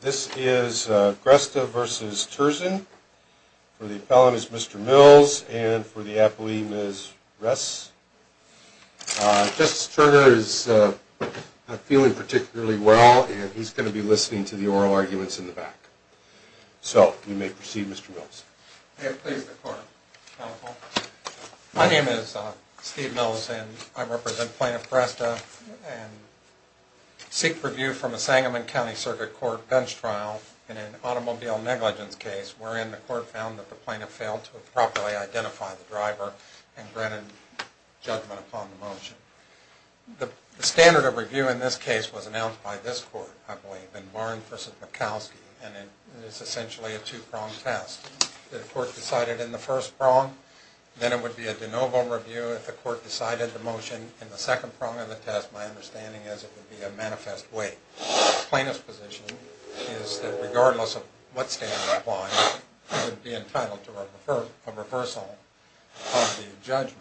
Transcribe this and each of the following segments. This is Gresta v. Turczyn for the appellant is Mr. Mills and for the appellee Ms. Ress. Justice Turner is not feeling particularly well and he's going to be listening to the oral arguments in the back. So we may proceed Mr. Mills. May it please the court. My name is Steve Mills and I represent Plaintiff Gresta and seek review from the Sangamon County Circuit Court bench trial in an automobile negligence case wherein the court found that the plaintiff failed to properly identify the driver and granted judgment upon the motion. The standard of review in this case was announced by this court, I believe, in Barn v. Mikowski and it is essentially a two-pronged test. The court decided in the first prong, then it would be a de novo review if the court decided the motion in the second prong of the manifest way. The plaintiff's position is that regardless of what standard applies, he would be entitled to a reversal of the judgment.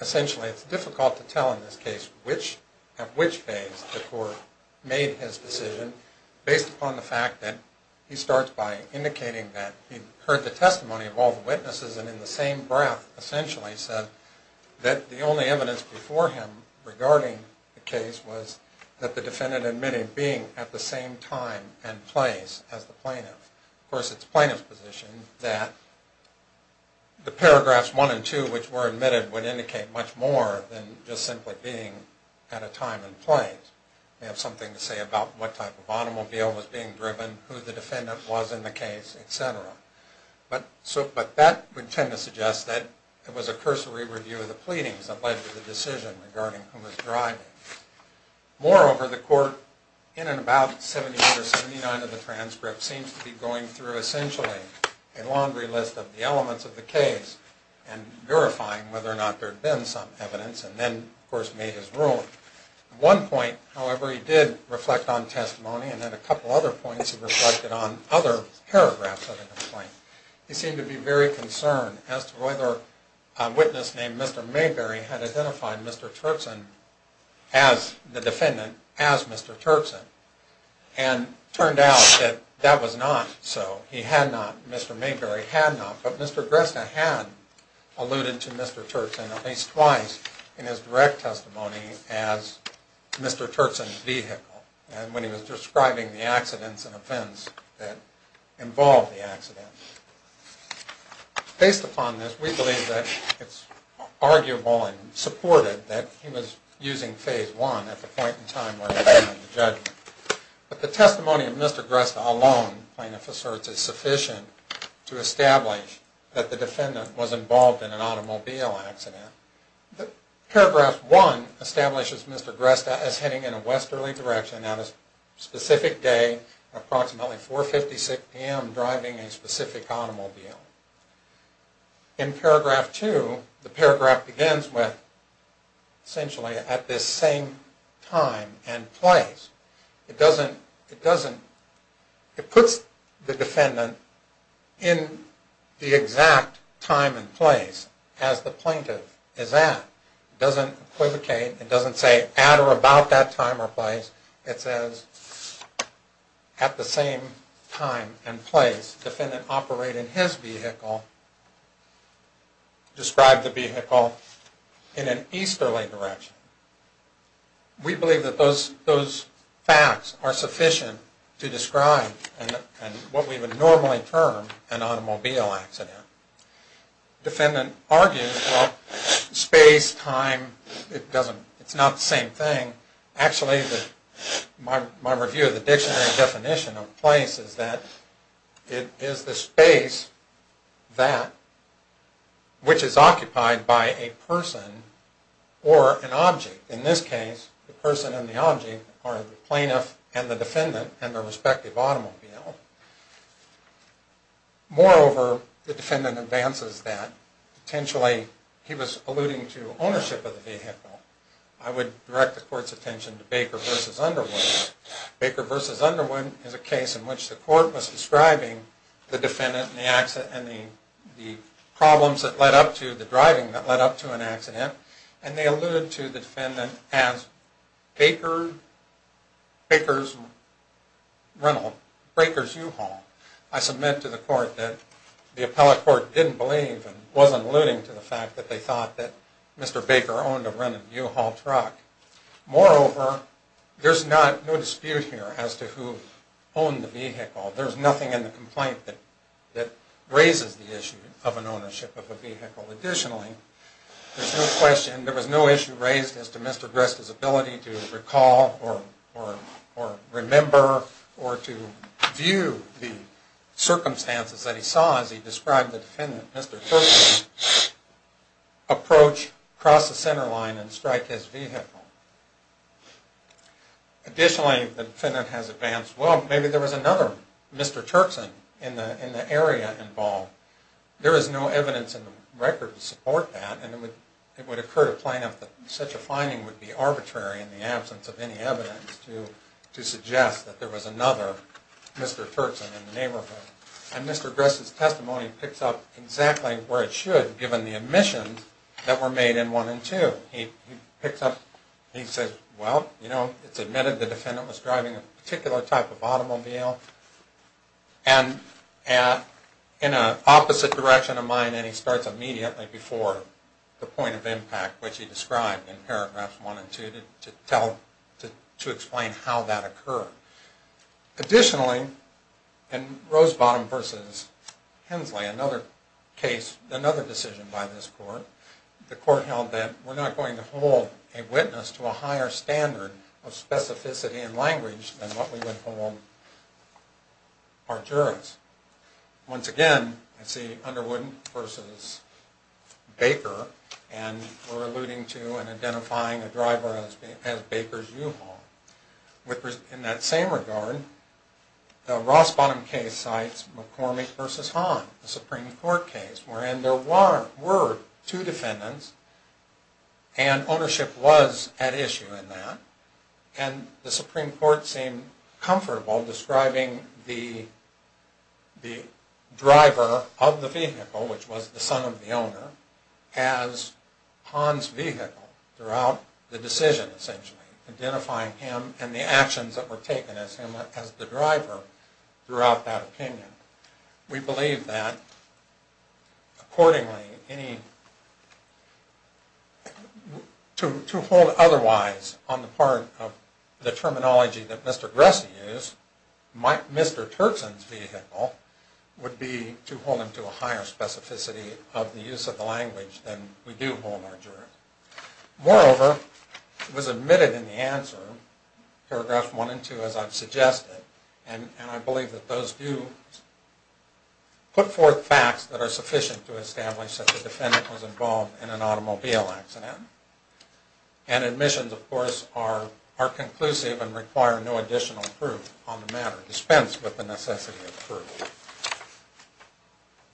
Essentially it's difficult to tell in this case at which phase the court made his decision based upon the fact that he starts by indicating that he heard the testimony of all the witnesses and in the same breath essentially said that the only evidence before him regarding the case was that the defendant admitted being at the same time and place as the plaintiff. Of course it's the plaintiff's position that the paragraphs one and two which were admitted would indicate much more than just simply being at a time and place. They have something to say about what type of automobile was being driven, who the defendant was in the case, etc. But that would tend to suggest that it was a cursory review of the pleadings that led to the decision regarding who was driving. Moreover, the court in and about 78 or 79 of the transcript seems to be going through essentially a laundry list of the elements of the case and verifying whether or not there had been some evidence and then of course made his ruling. At one point, however, he did reflect on testimony and then a couple other points he made. He seemed to be very concerned as to whether a witness named Mr. Mayberry had identified Mr. Turkson as the defendant as Mr. Turkson and turned out that that was not so. He had not. Mr. Mayberry had not. But Mr. Gresta had alluded to Mr. Turkson at least twice in his direct testimony as Mr. Turkson's vehicle and when he was describing the accidents and events that involved the accident. Based upon this, we believe that it's arguable and supported that he was using phase one at the point in time where he was going to be judged. But the testimony of Mr. Gresta alone, plaintiff asserts, is sufficient to establish that the defendant was involved in an automobile accident. Paragraph one establishes Mr. Gresta as heading in a westerly direction at a specific day, approximately 4.56 p.m., driving a specific automobile. In paragraph two, the paragraph begins with essentially at this same time and place. It puts the defendant in the exact time and place as the plaintiff is at. It doesn't equivocate. It says at the same time and place defendant operated his vehicle, described the vehicle in an easterly direction. We believe that those facts are sufficient to describe what we would normally term an automobile accident. Defendant argues, well, space, time, it's not the same thing. Actually, my review of the dictionary definition of place is that it is the space that which is occupied by a person or an object. In this case, the person and the object are the plaintiff and the defendant and their respective automobile. Moreover, the defendant advances that potentially he was alluding to ownership of the vehicle. I would direct the court's attention to Baker v. Underwood. Baker v. Underwood is a case in which the court was describing the defendant and the problems that led up to the driving that led up to an accident, and they alluded to the defendant as Baker's rental, Baker's U-Haul. I submit to the court that the appellate court didn't believe and wasn't alluding to the fact that they thought that Mr. Baker owned a rental U-Haul truck. Moreover, there's no dispute here as to who owned the vehicle. There's nothing in the complaint that raises the issue of an ownership of a vehicle. Additionally, there's no question, there was no issue raised as to Mr. Dresta's ability to as he described the defendant, Mr. Turkson, approach, cross the center line, and strike his vehicle. Additionally, the defendant has advanced, well, maybe there was another Mr. Turkson in the area involved. There is no evidence in the record to support that, and it would occur to plaintiff that such a finding would be arbitrary in the absence of any evidence to suggest that there was an accident. Mr. Dresta's testimony picks up exactly where it should, given the admissions that were made in 1 and 2. He picks up, he says, well, you know, it's admitted the defendant was driving a particular type of automobile, and in an opposite direction of mind, and he starts immediately before the point of impact, which he described in paragraphs 1 and 2 to tell, to explain how that occurred. Additionally, in Rosebottom v. Hensley, another case, another decision by this court, the court held that we're not going to hold a witness to a higher standard of specificity and language than what we would hold our jurors. Once again, I see Underwood v. Baker, and we're alluding to and identifying a driver as Baker's U-Haul. In that same regard, the Rosebottom case cites McCormick v. Hahn, the Supreme Court case, wherein there were two defendants, and ownership was at issue in that, and the Supreme Court seemed comfortable describing the driver of the vehicle, which was the son of the owner, as Hahn's vehicle throughout the decision, essentially, identifying him and the actions that were taken as him as the driver throughout that opinion. We believe that, accordingly, to hold otherwise on the part of the terminology that Mr. Gress used, might Mr. Turkson's vehicle, would be to hold him to a higher specificity of the use of the language than we do hold our jurors. Moreover, it was admitted in the answer, paragraphs 1 and 2, as I've suggested, and I believe that those do put forth facts that are sufficient to establish that the defendant was involved in an automobile accident, and admissions, of course, are conclusive and require no additional proof on the matter, dispensed with the necessity of proof.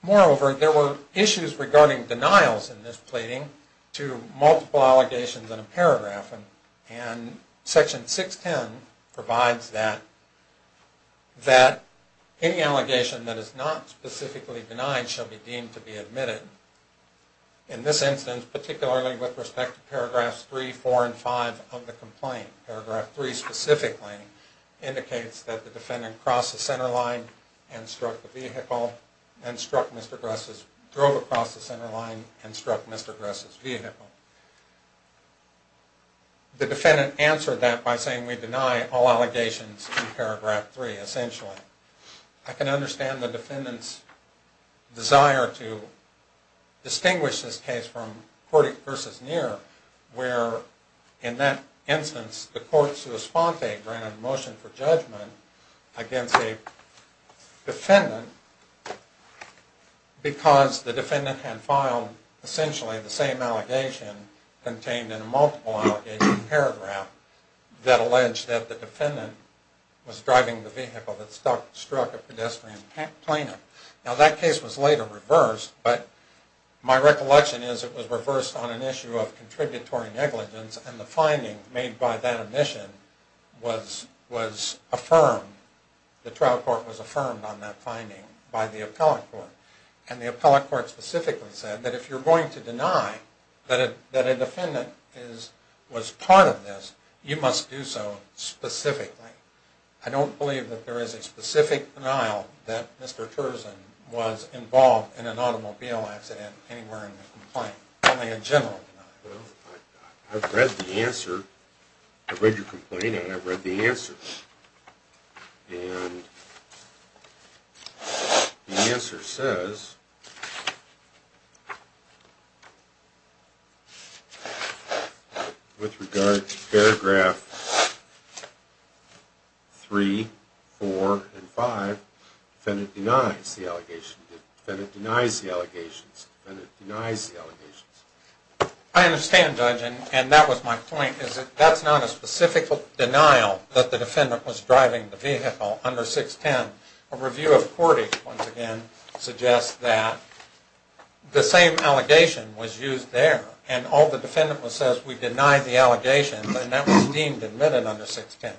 Moreover, there were issues regarding denials in this pleading to multiple allegations in a paragraph, and Section 610 provides that any allegation that is not specifically denied shall be deemed to be admitted. In this instance, particularly with respect to paragraphs 3, 4, and 5 of the complaint, paragraph 3 specifically indicates that the defendant crossed the center line and struck the vehicle, and struck Mr. Gress's, drove across the center line and struck Mr. Gress's vehicle. The defendant answered that by saying we deny all allegations in paragraph 3, essentially. I can understand the defendant's desire to distinguish this case from Courtney v. Neer, where in that instance the court's response granted a motion for judgment against a defendant because the defendant had filed essentially the same allegation contained in a multiple struck a pedestrian plaintiff. Now that case was later reversed, but my recollection is it was reversed on an issue of contributory negligence, and the finding made by that admission was affirmed, the trial court was affirmed on that finding by the appellate court. And the appellate court specifically said that if you're going to deny that a defendant was part of this, you must do so specifically. I don't believe that there is a specific denial that Mr. Terzan was involved in an automobile accident anywhere in the complaint, only a general denial. I've read the answer, I've read your complaint, and I've read the answer. And the answer says, with regard to paragraph 3, 4, and 5, defendant denies the allegations, defendant denies the allegations, defendant denies the allegations. I understand, Judge, and that was my point, that's not a specific denial that the defendant was driving the vehicle under 610. A review of courting, once again, suggests that the same allegation was used there, and all the defendant says was, we deny the allegations, and that was deemed admitted under 610.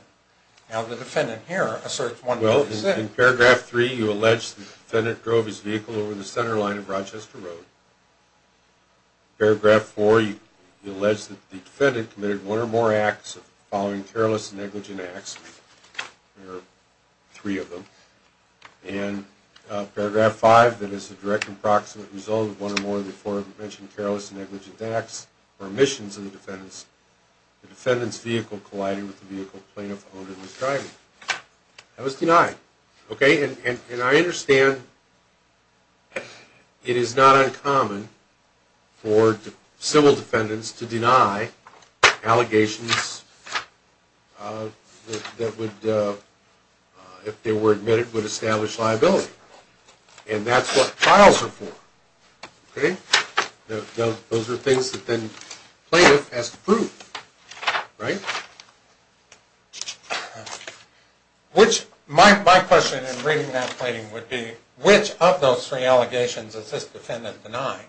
Now the defendant here asserts 196. Well, in paragraph 3, you allege the defendant drove his vehicle over the center of Rochester Road. Paragraph 4, you allege that the defendant committed one or more acts following careless and negligent acts, there are three of them, and paragraph 5, that is a direct and proximate result of one or more of the aforementioned careless and negligent acts or omissions of the defendant's vehicle colliding with the vehicle the plaintiff owned and was driving. That was denied, okay, and I understand it is not uncommon for civil defendants to deny allegations that would, if they were admitted, would establish liability, and that's what trials are for, okay. Those are things that then plaintiff has to prove, right? Which, my question in reading that plating would be, which of those three allegations is this defendant denying?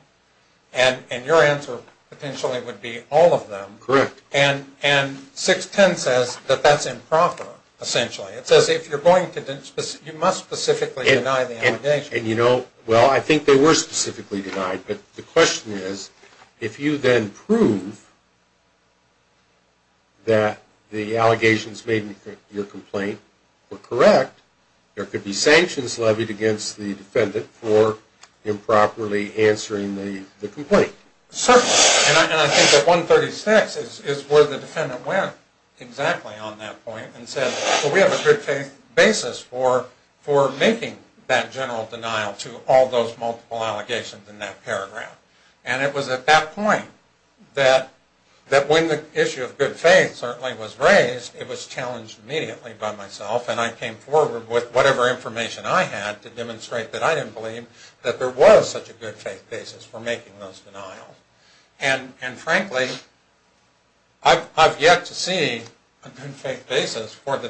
And your answer potentially would be all of them. Correct. And 610 says that that's improper, essentially. It says if you're going to, you must specifically deny the allegation. And you know, well, I think they were specifically denied, but the question is, if you then prove that the allegations made in your complaint were correct, there could be sanctions levied against the defendant for improperly answering the complaint. Certainly, and I think that 136 is where the defendant went exactly on that point and said, well, we have a good faith basis for making that general denial to all those multiple allegations in that case. And it was at that point that when the issue of good faith certainly was raised, it was challenged immediately by myself, and I came forward with whatever information I had to demonstrate that I didn't believe that there was such a good faith basis for making those denials. And frankly, I've yet to see a good faith basis for the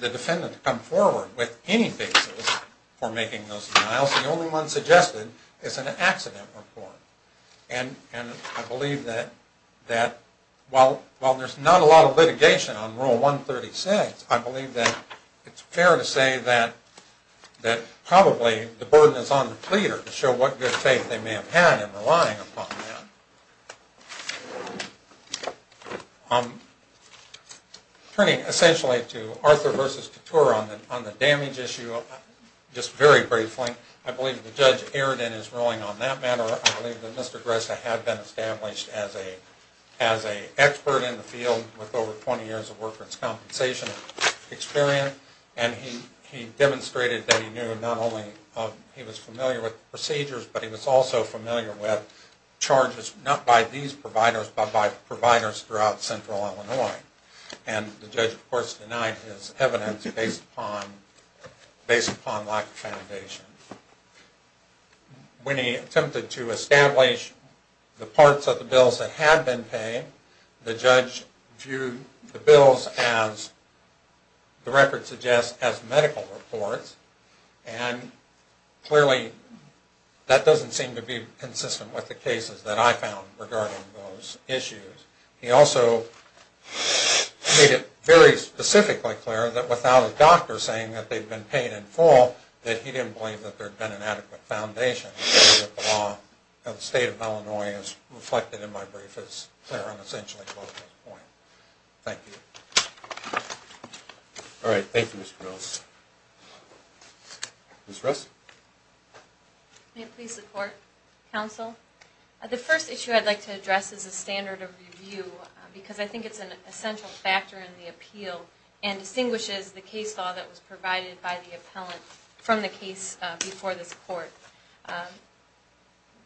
defendant to come forward with any basis for making those denials. The only one suggested is an accident report. And I believe that while there's not a lot of litigation on Rule 136, I believe that it's fair to say that probably the burden is on the pleader to show what good faith they may have had in relying upon that. Turning essentially to Arthur versus Couture on the damage issue, just very briefly, I believe that Judge Airden is ruling on that matter. I believe that Mr. Gress had been established as an expert in the field with over 20 years of worker's compensation experience, and he demonstrated that he knew not only he was familiar with procedures, but he was also familiar with charges not by these providers, but by providers throughout central Illinois. And the judge of course denied his evidence based upon lack of foundation. When he attempted to establish the parts of the bills that had been paid, the judge viewed the bills as the record suggests as medical reports, and clearly that doesn't seem to be consistent with the cases that I found regarding those issues. He also made it very specifically clear that without a doctor saying that they'd been paid in full, that he didn't believe that there'd been an adequate foundation. The state of Illinois is reflected in my brief as clear and essentially close to this point. Thank you. All right, thank you Mr. Mills. Ms. Russ. May it please the court, counsel. The first issue I'd like to address is a standard of review because I think it's an essential factor in the appeal and distinguishes the case law that was provided by the appellant from the case before this court.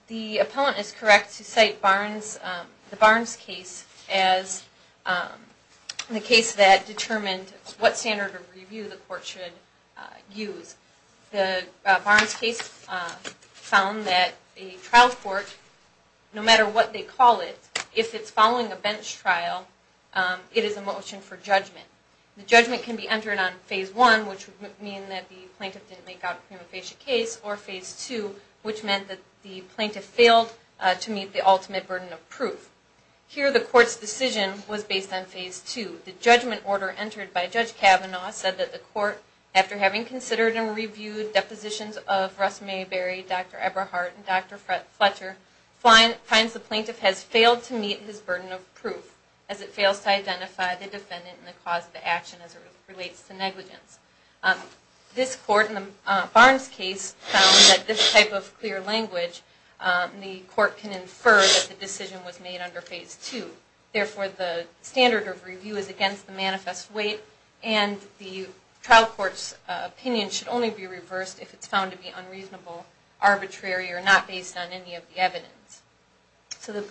The appellant is the case that determined what standard of review the court should use. The Barnes case found that a trial court, no matter what they call it, if it's following a bench trial, it is a motion for judgment. The judgment can be entered on phase one, which would mean that the plaintiff didn't make out a prima facie case, or phase two, which meant that the plaintiff failed to meet the ultimate burden of proof. Here the court's decision was based on phase two. The judgment order entered by Judge Kavanaugh said that the court, after having considered and reviewed depositions of Russ Mayberry, Dr. Eberhardt, and Dr. Fletcher, finds the plaintiff has failed to meet his burden of proof as it fails to identify the defendant and the cause of the action as it relates to negligence. This court in the Barnes case found that this type of clear the court can infer that the decision was made under phase two. Therefore the standard of review is against the manifest weight and the trial court's opinion should only be reversed if it's found to be unreasonable, arbitrary, or not based on any of the evidence. So the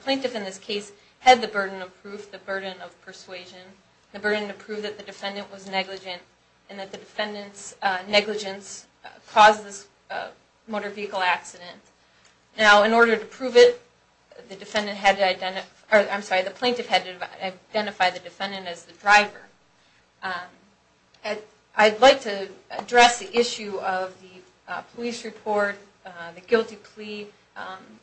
plaintiff in this case had the burden of proof, the burden of persuasion, the burden to prove that the defendant was negligent and that the defendant's negligence caused this motor vehicle accident. Now in order to prove it, the defendant had to identify, or I'm sorry, the plaintiff had to identify the defendant as the driver. I'd like to address the issue of the police report, the guilty plea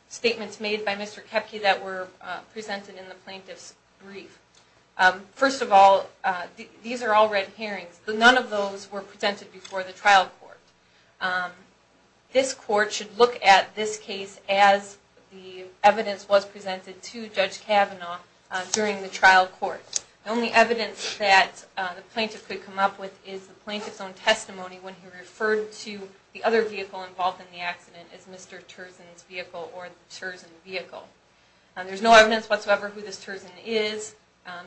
statements made by Mr. Koepke that were presented in the plaintiff's brief. First of all, these are all red herrings, but none of those were presented before the trial court. This court should look at this case as the evidence was presented to Judge Kavanaugh during the trial court. The only evidence that the plaintiff could come up with is the plaintiff's own testimony when he referred to the other vehicle involved in the accident as Mr. Terzan's vehicle or the Terzan vehicle. There's no evidence whatsoever who this Terzan is.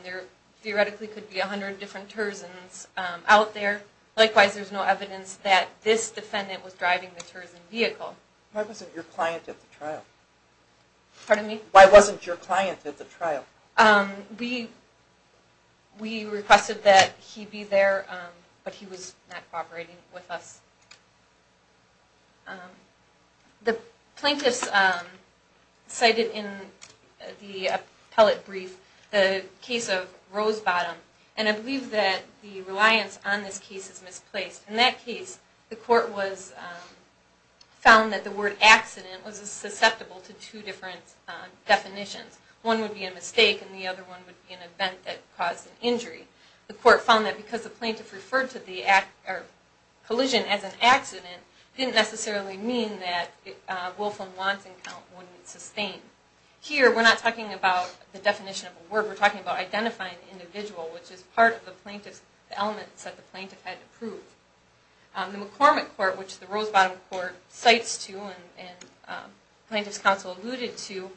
There theoretically could be a hundred different Terzans out there. Likewise, there's no evidence that this defendant was driving the Terzan vehicle. Why wasn't your client at the trial? Pardon me? Why wasn't your client at the trial? We requested that he be there, but he was not cooperating with us. The plaintiffs cited in the appellate brief the case of Rosebottom, and I believe that the reliance on this case is misplaced. In that case, the court found that the word accident was susceptible to two different definitions. One would be a mistake and the other one would be an event that caused an injury. The court found that because the plaintiff referred to the collision as an accident, it didn't necessarily mean that Wolf and Watson count wouldn't sustain. Here, we're not talking about the definition of a word. We're talking about identifying the individual, which is part of the plaintiff's element that the plaintiff had to prove. The McCormick court, which the Rosebottom court cites to and plaintiff's counsel alluded to,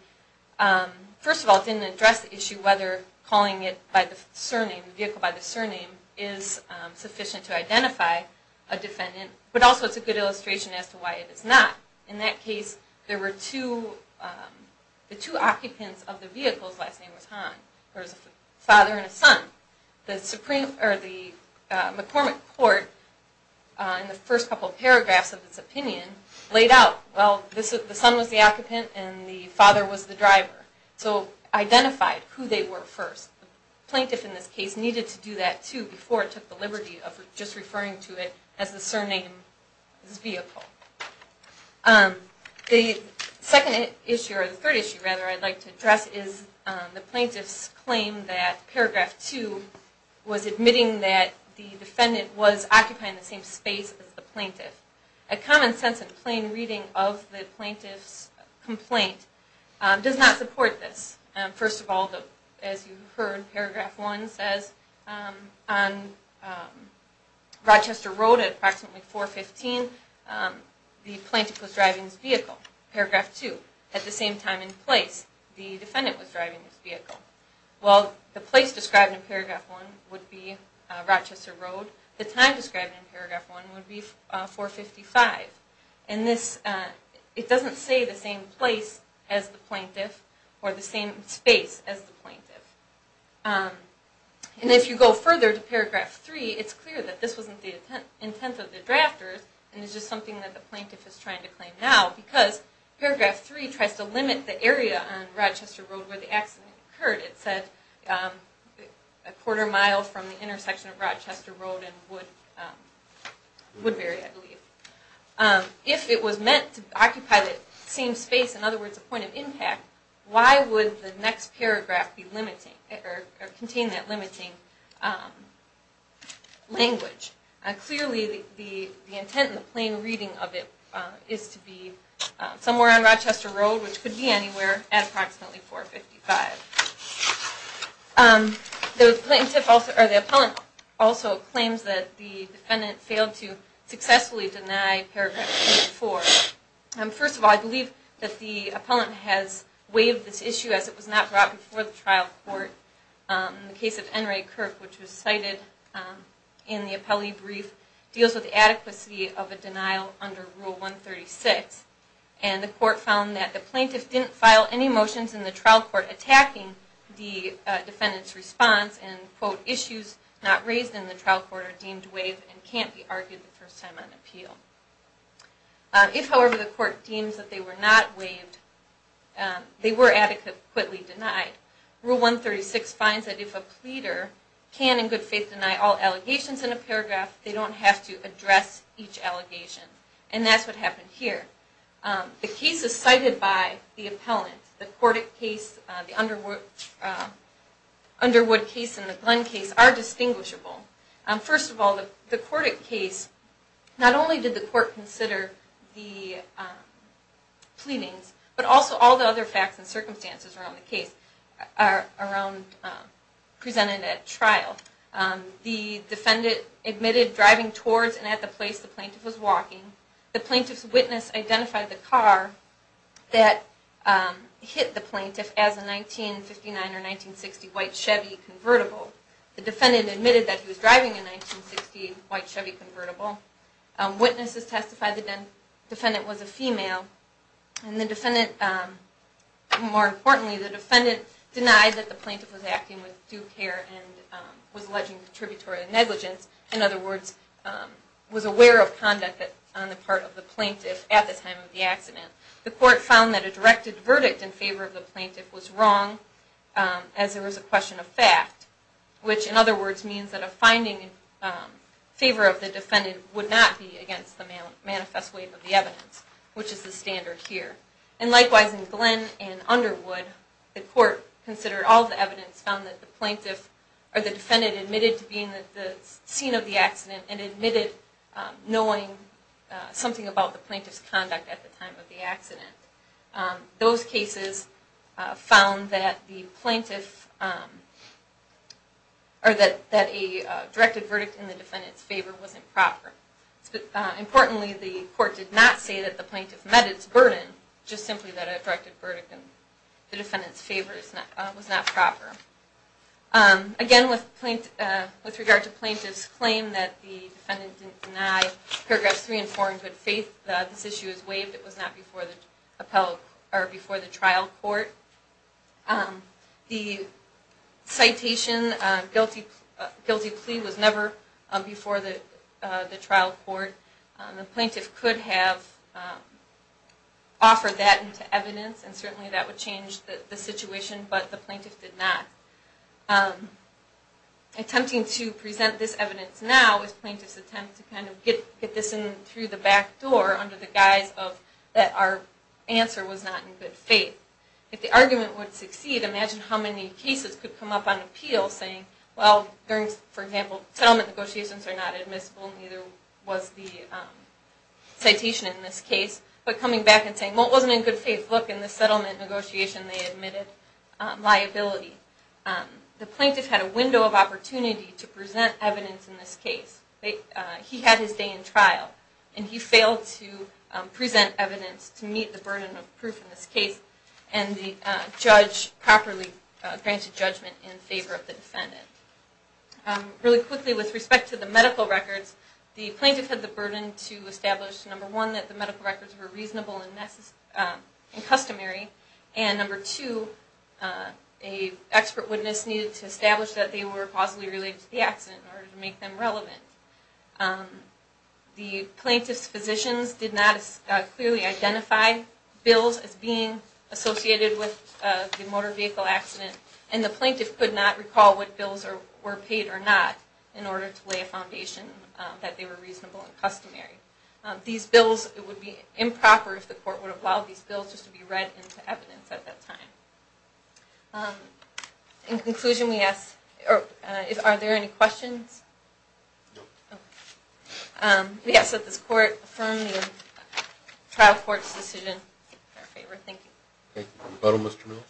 first of all, didn't address the issue whether calling it by the surname, the vehicle by the surname, is sufficient to identify a defendant, but also it's a good illustration as to why it is not. In that case, there were two occupants of the vehicle's last name was Han. There was a father and a son. The McCormick court in the first couple paragraphs of its opinion laid out, well, the son was the occupant and the father was the driver, so identified who they were first. The plaintiff in this case needed to do that too before it took the liberty of just referring to it as the surname's vehicle. The second issue, or the third issue rather, I'd like to address is the plaintiff's claim that paragraph two was admitting that the defendant was occupying the same space as the plaintiff. A common sense and plain reading of the plaintiff's complaint does not support this. First of all, as you heard, paragraph one says on Rochester Road at approximately 415, the plaintiff was driving his vehicle. Paragraph two, at the same time and place, the defendant was driving his vehicle. While the place described in paragraph one would be Rochester Road, the time described in paragraph one would be 455. And this, it doesn't say the same place as the plaintiff or the same space as the plaintiff. And if you go further to paragraph three, it's clear that this wasn't the intent of the drafters and it's just something that the plaintiff is trying to claim now because paragraph three tries to limit the area on Rochester Road where the accident occurred. It said a quarter mile from the intersection of Rochester Road and Woodbury, I believe. If it was meant to occupy the same space, in other words, a point of impact, why would the next paragraph be limiting or contain that limiting language? Clearly the intent and the plain reading of it is to be somewhere on Rochester Road, which could be anywhere, at approximately 455. The plaintiff also, or the First of all, I believe that the appellant has waived this issue as it was not brought before the trial court. In the case of N. Ray Kirk, which was cited in the appellee brief, deals with the adequacy of a denial under Rule 136. And the court found that the plaintiff didn't file any motions in the trial court attacking the defendant's response and quote, issues not raised in the trial court are deemed waived and can't be argued the first time on appeal. If however the court deems that they were not waived, they were adequately denied. Rule 136 finds that if a pleader can in good faith deny all allegations in a paragraph, they don't have to address each allegation. And that's what happened here. The case is cited by the appellant. The Cordic case, the Underwood case, and the Glenn case are distinguishable. First of all, the Cordic case, not only did the court consider the pleadings, but also all the other facts and circumstances around the case presented at trial. The defendant admitted driving towards and at the place the plaintiff was walking. The plaintiff's witness identified the car that hit the plaintiff as a 1959 or 1960 white Chevy convertible. The defendant admitted that he was driving a 1960 white Chevy convertible. Witnesses testified that the defendant was a female. And the defendant, more importantly, the defendant denied that the plaintiff was acting with due care and was alleging contributory negligence. In other words, was aware of conduct on the part of the plaintiff at the time of the accident. The court found that a directed verdict in favor of the plaintiff was wrong as there was a question of fact, which in other words means that a finding in favor of the defendant would not be against the manifest weight of the evidence, which is the standard here. And likewise, in Glenn and Underwood, the court considered all the evidence, found that the plaintiff or the defendant admitted to being at the scene of the accident and admitted knowing something about the plaintiff's conduct at the time of the accident. Those cases found that a directed verdict in the defendant's favor wasn't proper. Importantly, the court did not say that the plaintiff met its burden, just simply that a directed verdict in the defendant's favor was not proper. Again, with regard to the defendant denied paragraphs 3 and 4 in good faith, this issue is waived. It was not before the trial court. The citation, guilty plea was never before the trial court. The plaintiff could have offered that into evidence and certainly that would change the situation, but the plaintiff's attempt to kind of get this in through the back door under the guise that our answer was not in good faith. If the argument would succeed, imagine how many cases could come up on appeal saying, well, for example, settlement negotiations are not admissible, neither was the citation in this case, but coming back and saying, well, it wasn't in good faith. Look, in the settlement negotiation they admitted liability. The plaintiff had a he had his day in trial and he failed to present evidence to meet the burden of proof in this case and the judge properly granted judgment in favor of the defendant. Really quickly, with respect to the medical records, the plaintiff had the burden to establish, number one, that the medical records were reasonable and necessary and customary, and number two, an expert witness needed to establish that they were causally related to the accident in order to make them relevant. The plaintiff's physicians did not clearly identify bills as being associated with the motor vehicle accident and the plaintiff could not recall what bills were paid or not in order to lay a foundation that they were reasonable and customary. These bills would be improper if the court would have allowed these bills just to be read into evidence at that time. In conclusion, we ask, are there any questions? No. We ask that this court affirm the trial court's decision in our favor. Thank you. Thank you. Mr. Mills.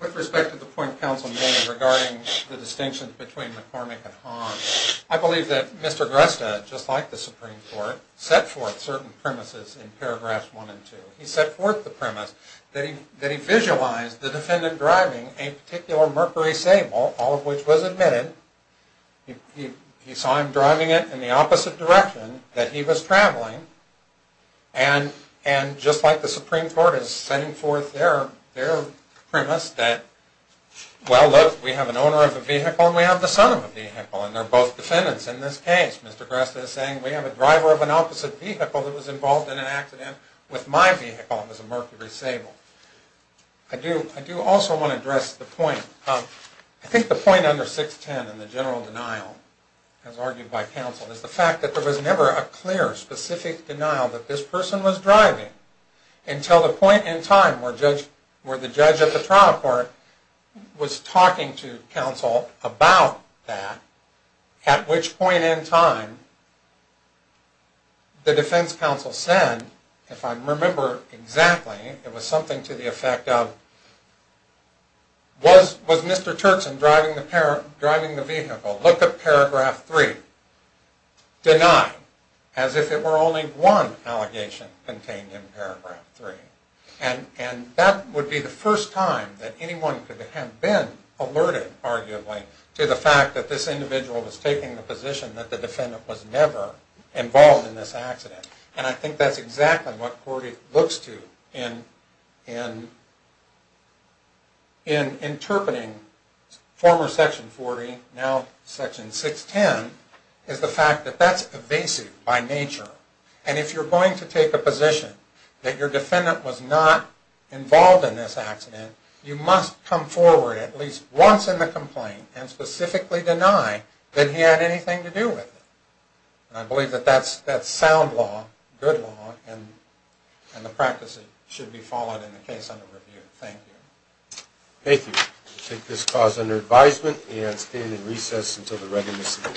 With respect to the point counsel made regarding the distinction between McCormick and certain premises in paragraphs one and two, he set forth the premise that he visualized the defendant driving a particular Mercury Sable, all of which was admitted. He saw him driving it in the opposite direction that he was traveling and just like the Supreme Court is setting forth their premise that, well, look, we have an owner of a vehicle and we have the son of a vehicle and they're both defendants in this case. Mr. Gresta is saying, we have a driver of an opposite vehicle that was involved in an accident with my vehicle. It was a Mercury Sable. I do also want to address the point. I think the point under 610 in the general denial, as argued by counsel, is the fact that there was never a clear, specific denial that this person was driving until the point in time where the judge at the trial court was talking to counsel about that at which point in time the defense counsel said, if I remember exactly, it was something to the effect of, was Mr. Turkson driving the vehicle? Look at paragraph three. Denied, as if it were only one allegation contained in paragraph three. And that would be the first time that anyone could have been alerted, arguably, to the fact that this individual was taking the position that the defendant was never involved in this accident. And I think that's exactly what court looks to in interpreting former section 40, now section 610, is the fact that that's evasive by nature. And if you're going to take a position that your defendant was not involved in this accident, you must come forward at least once in the complaint and specifically deny that he had anything to do with it. And I believe that that's sound law, good law, and the practice should be followed in the case under review. Thank you. Thank you. We'll take this clause under advisement and stand in recess until the readiness of the court.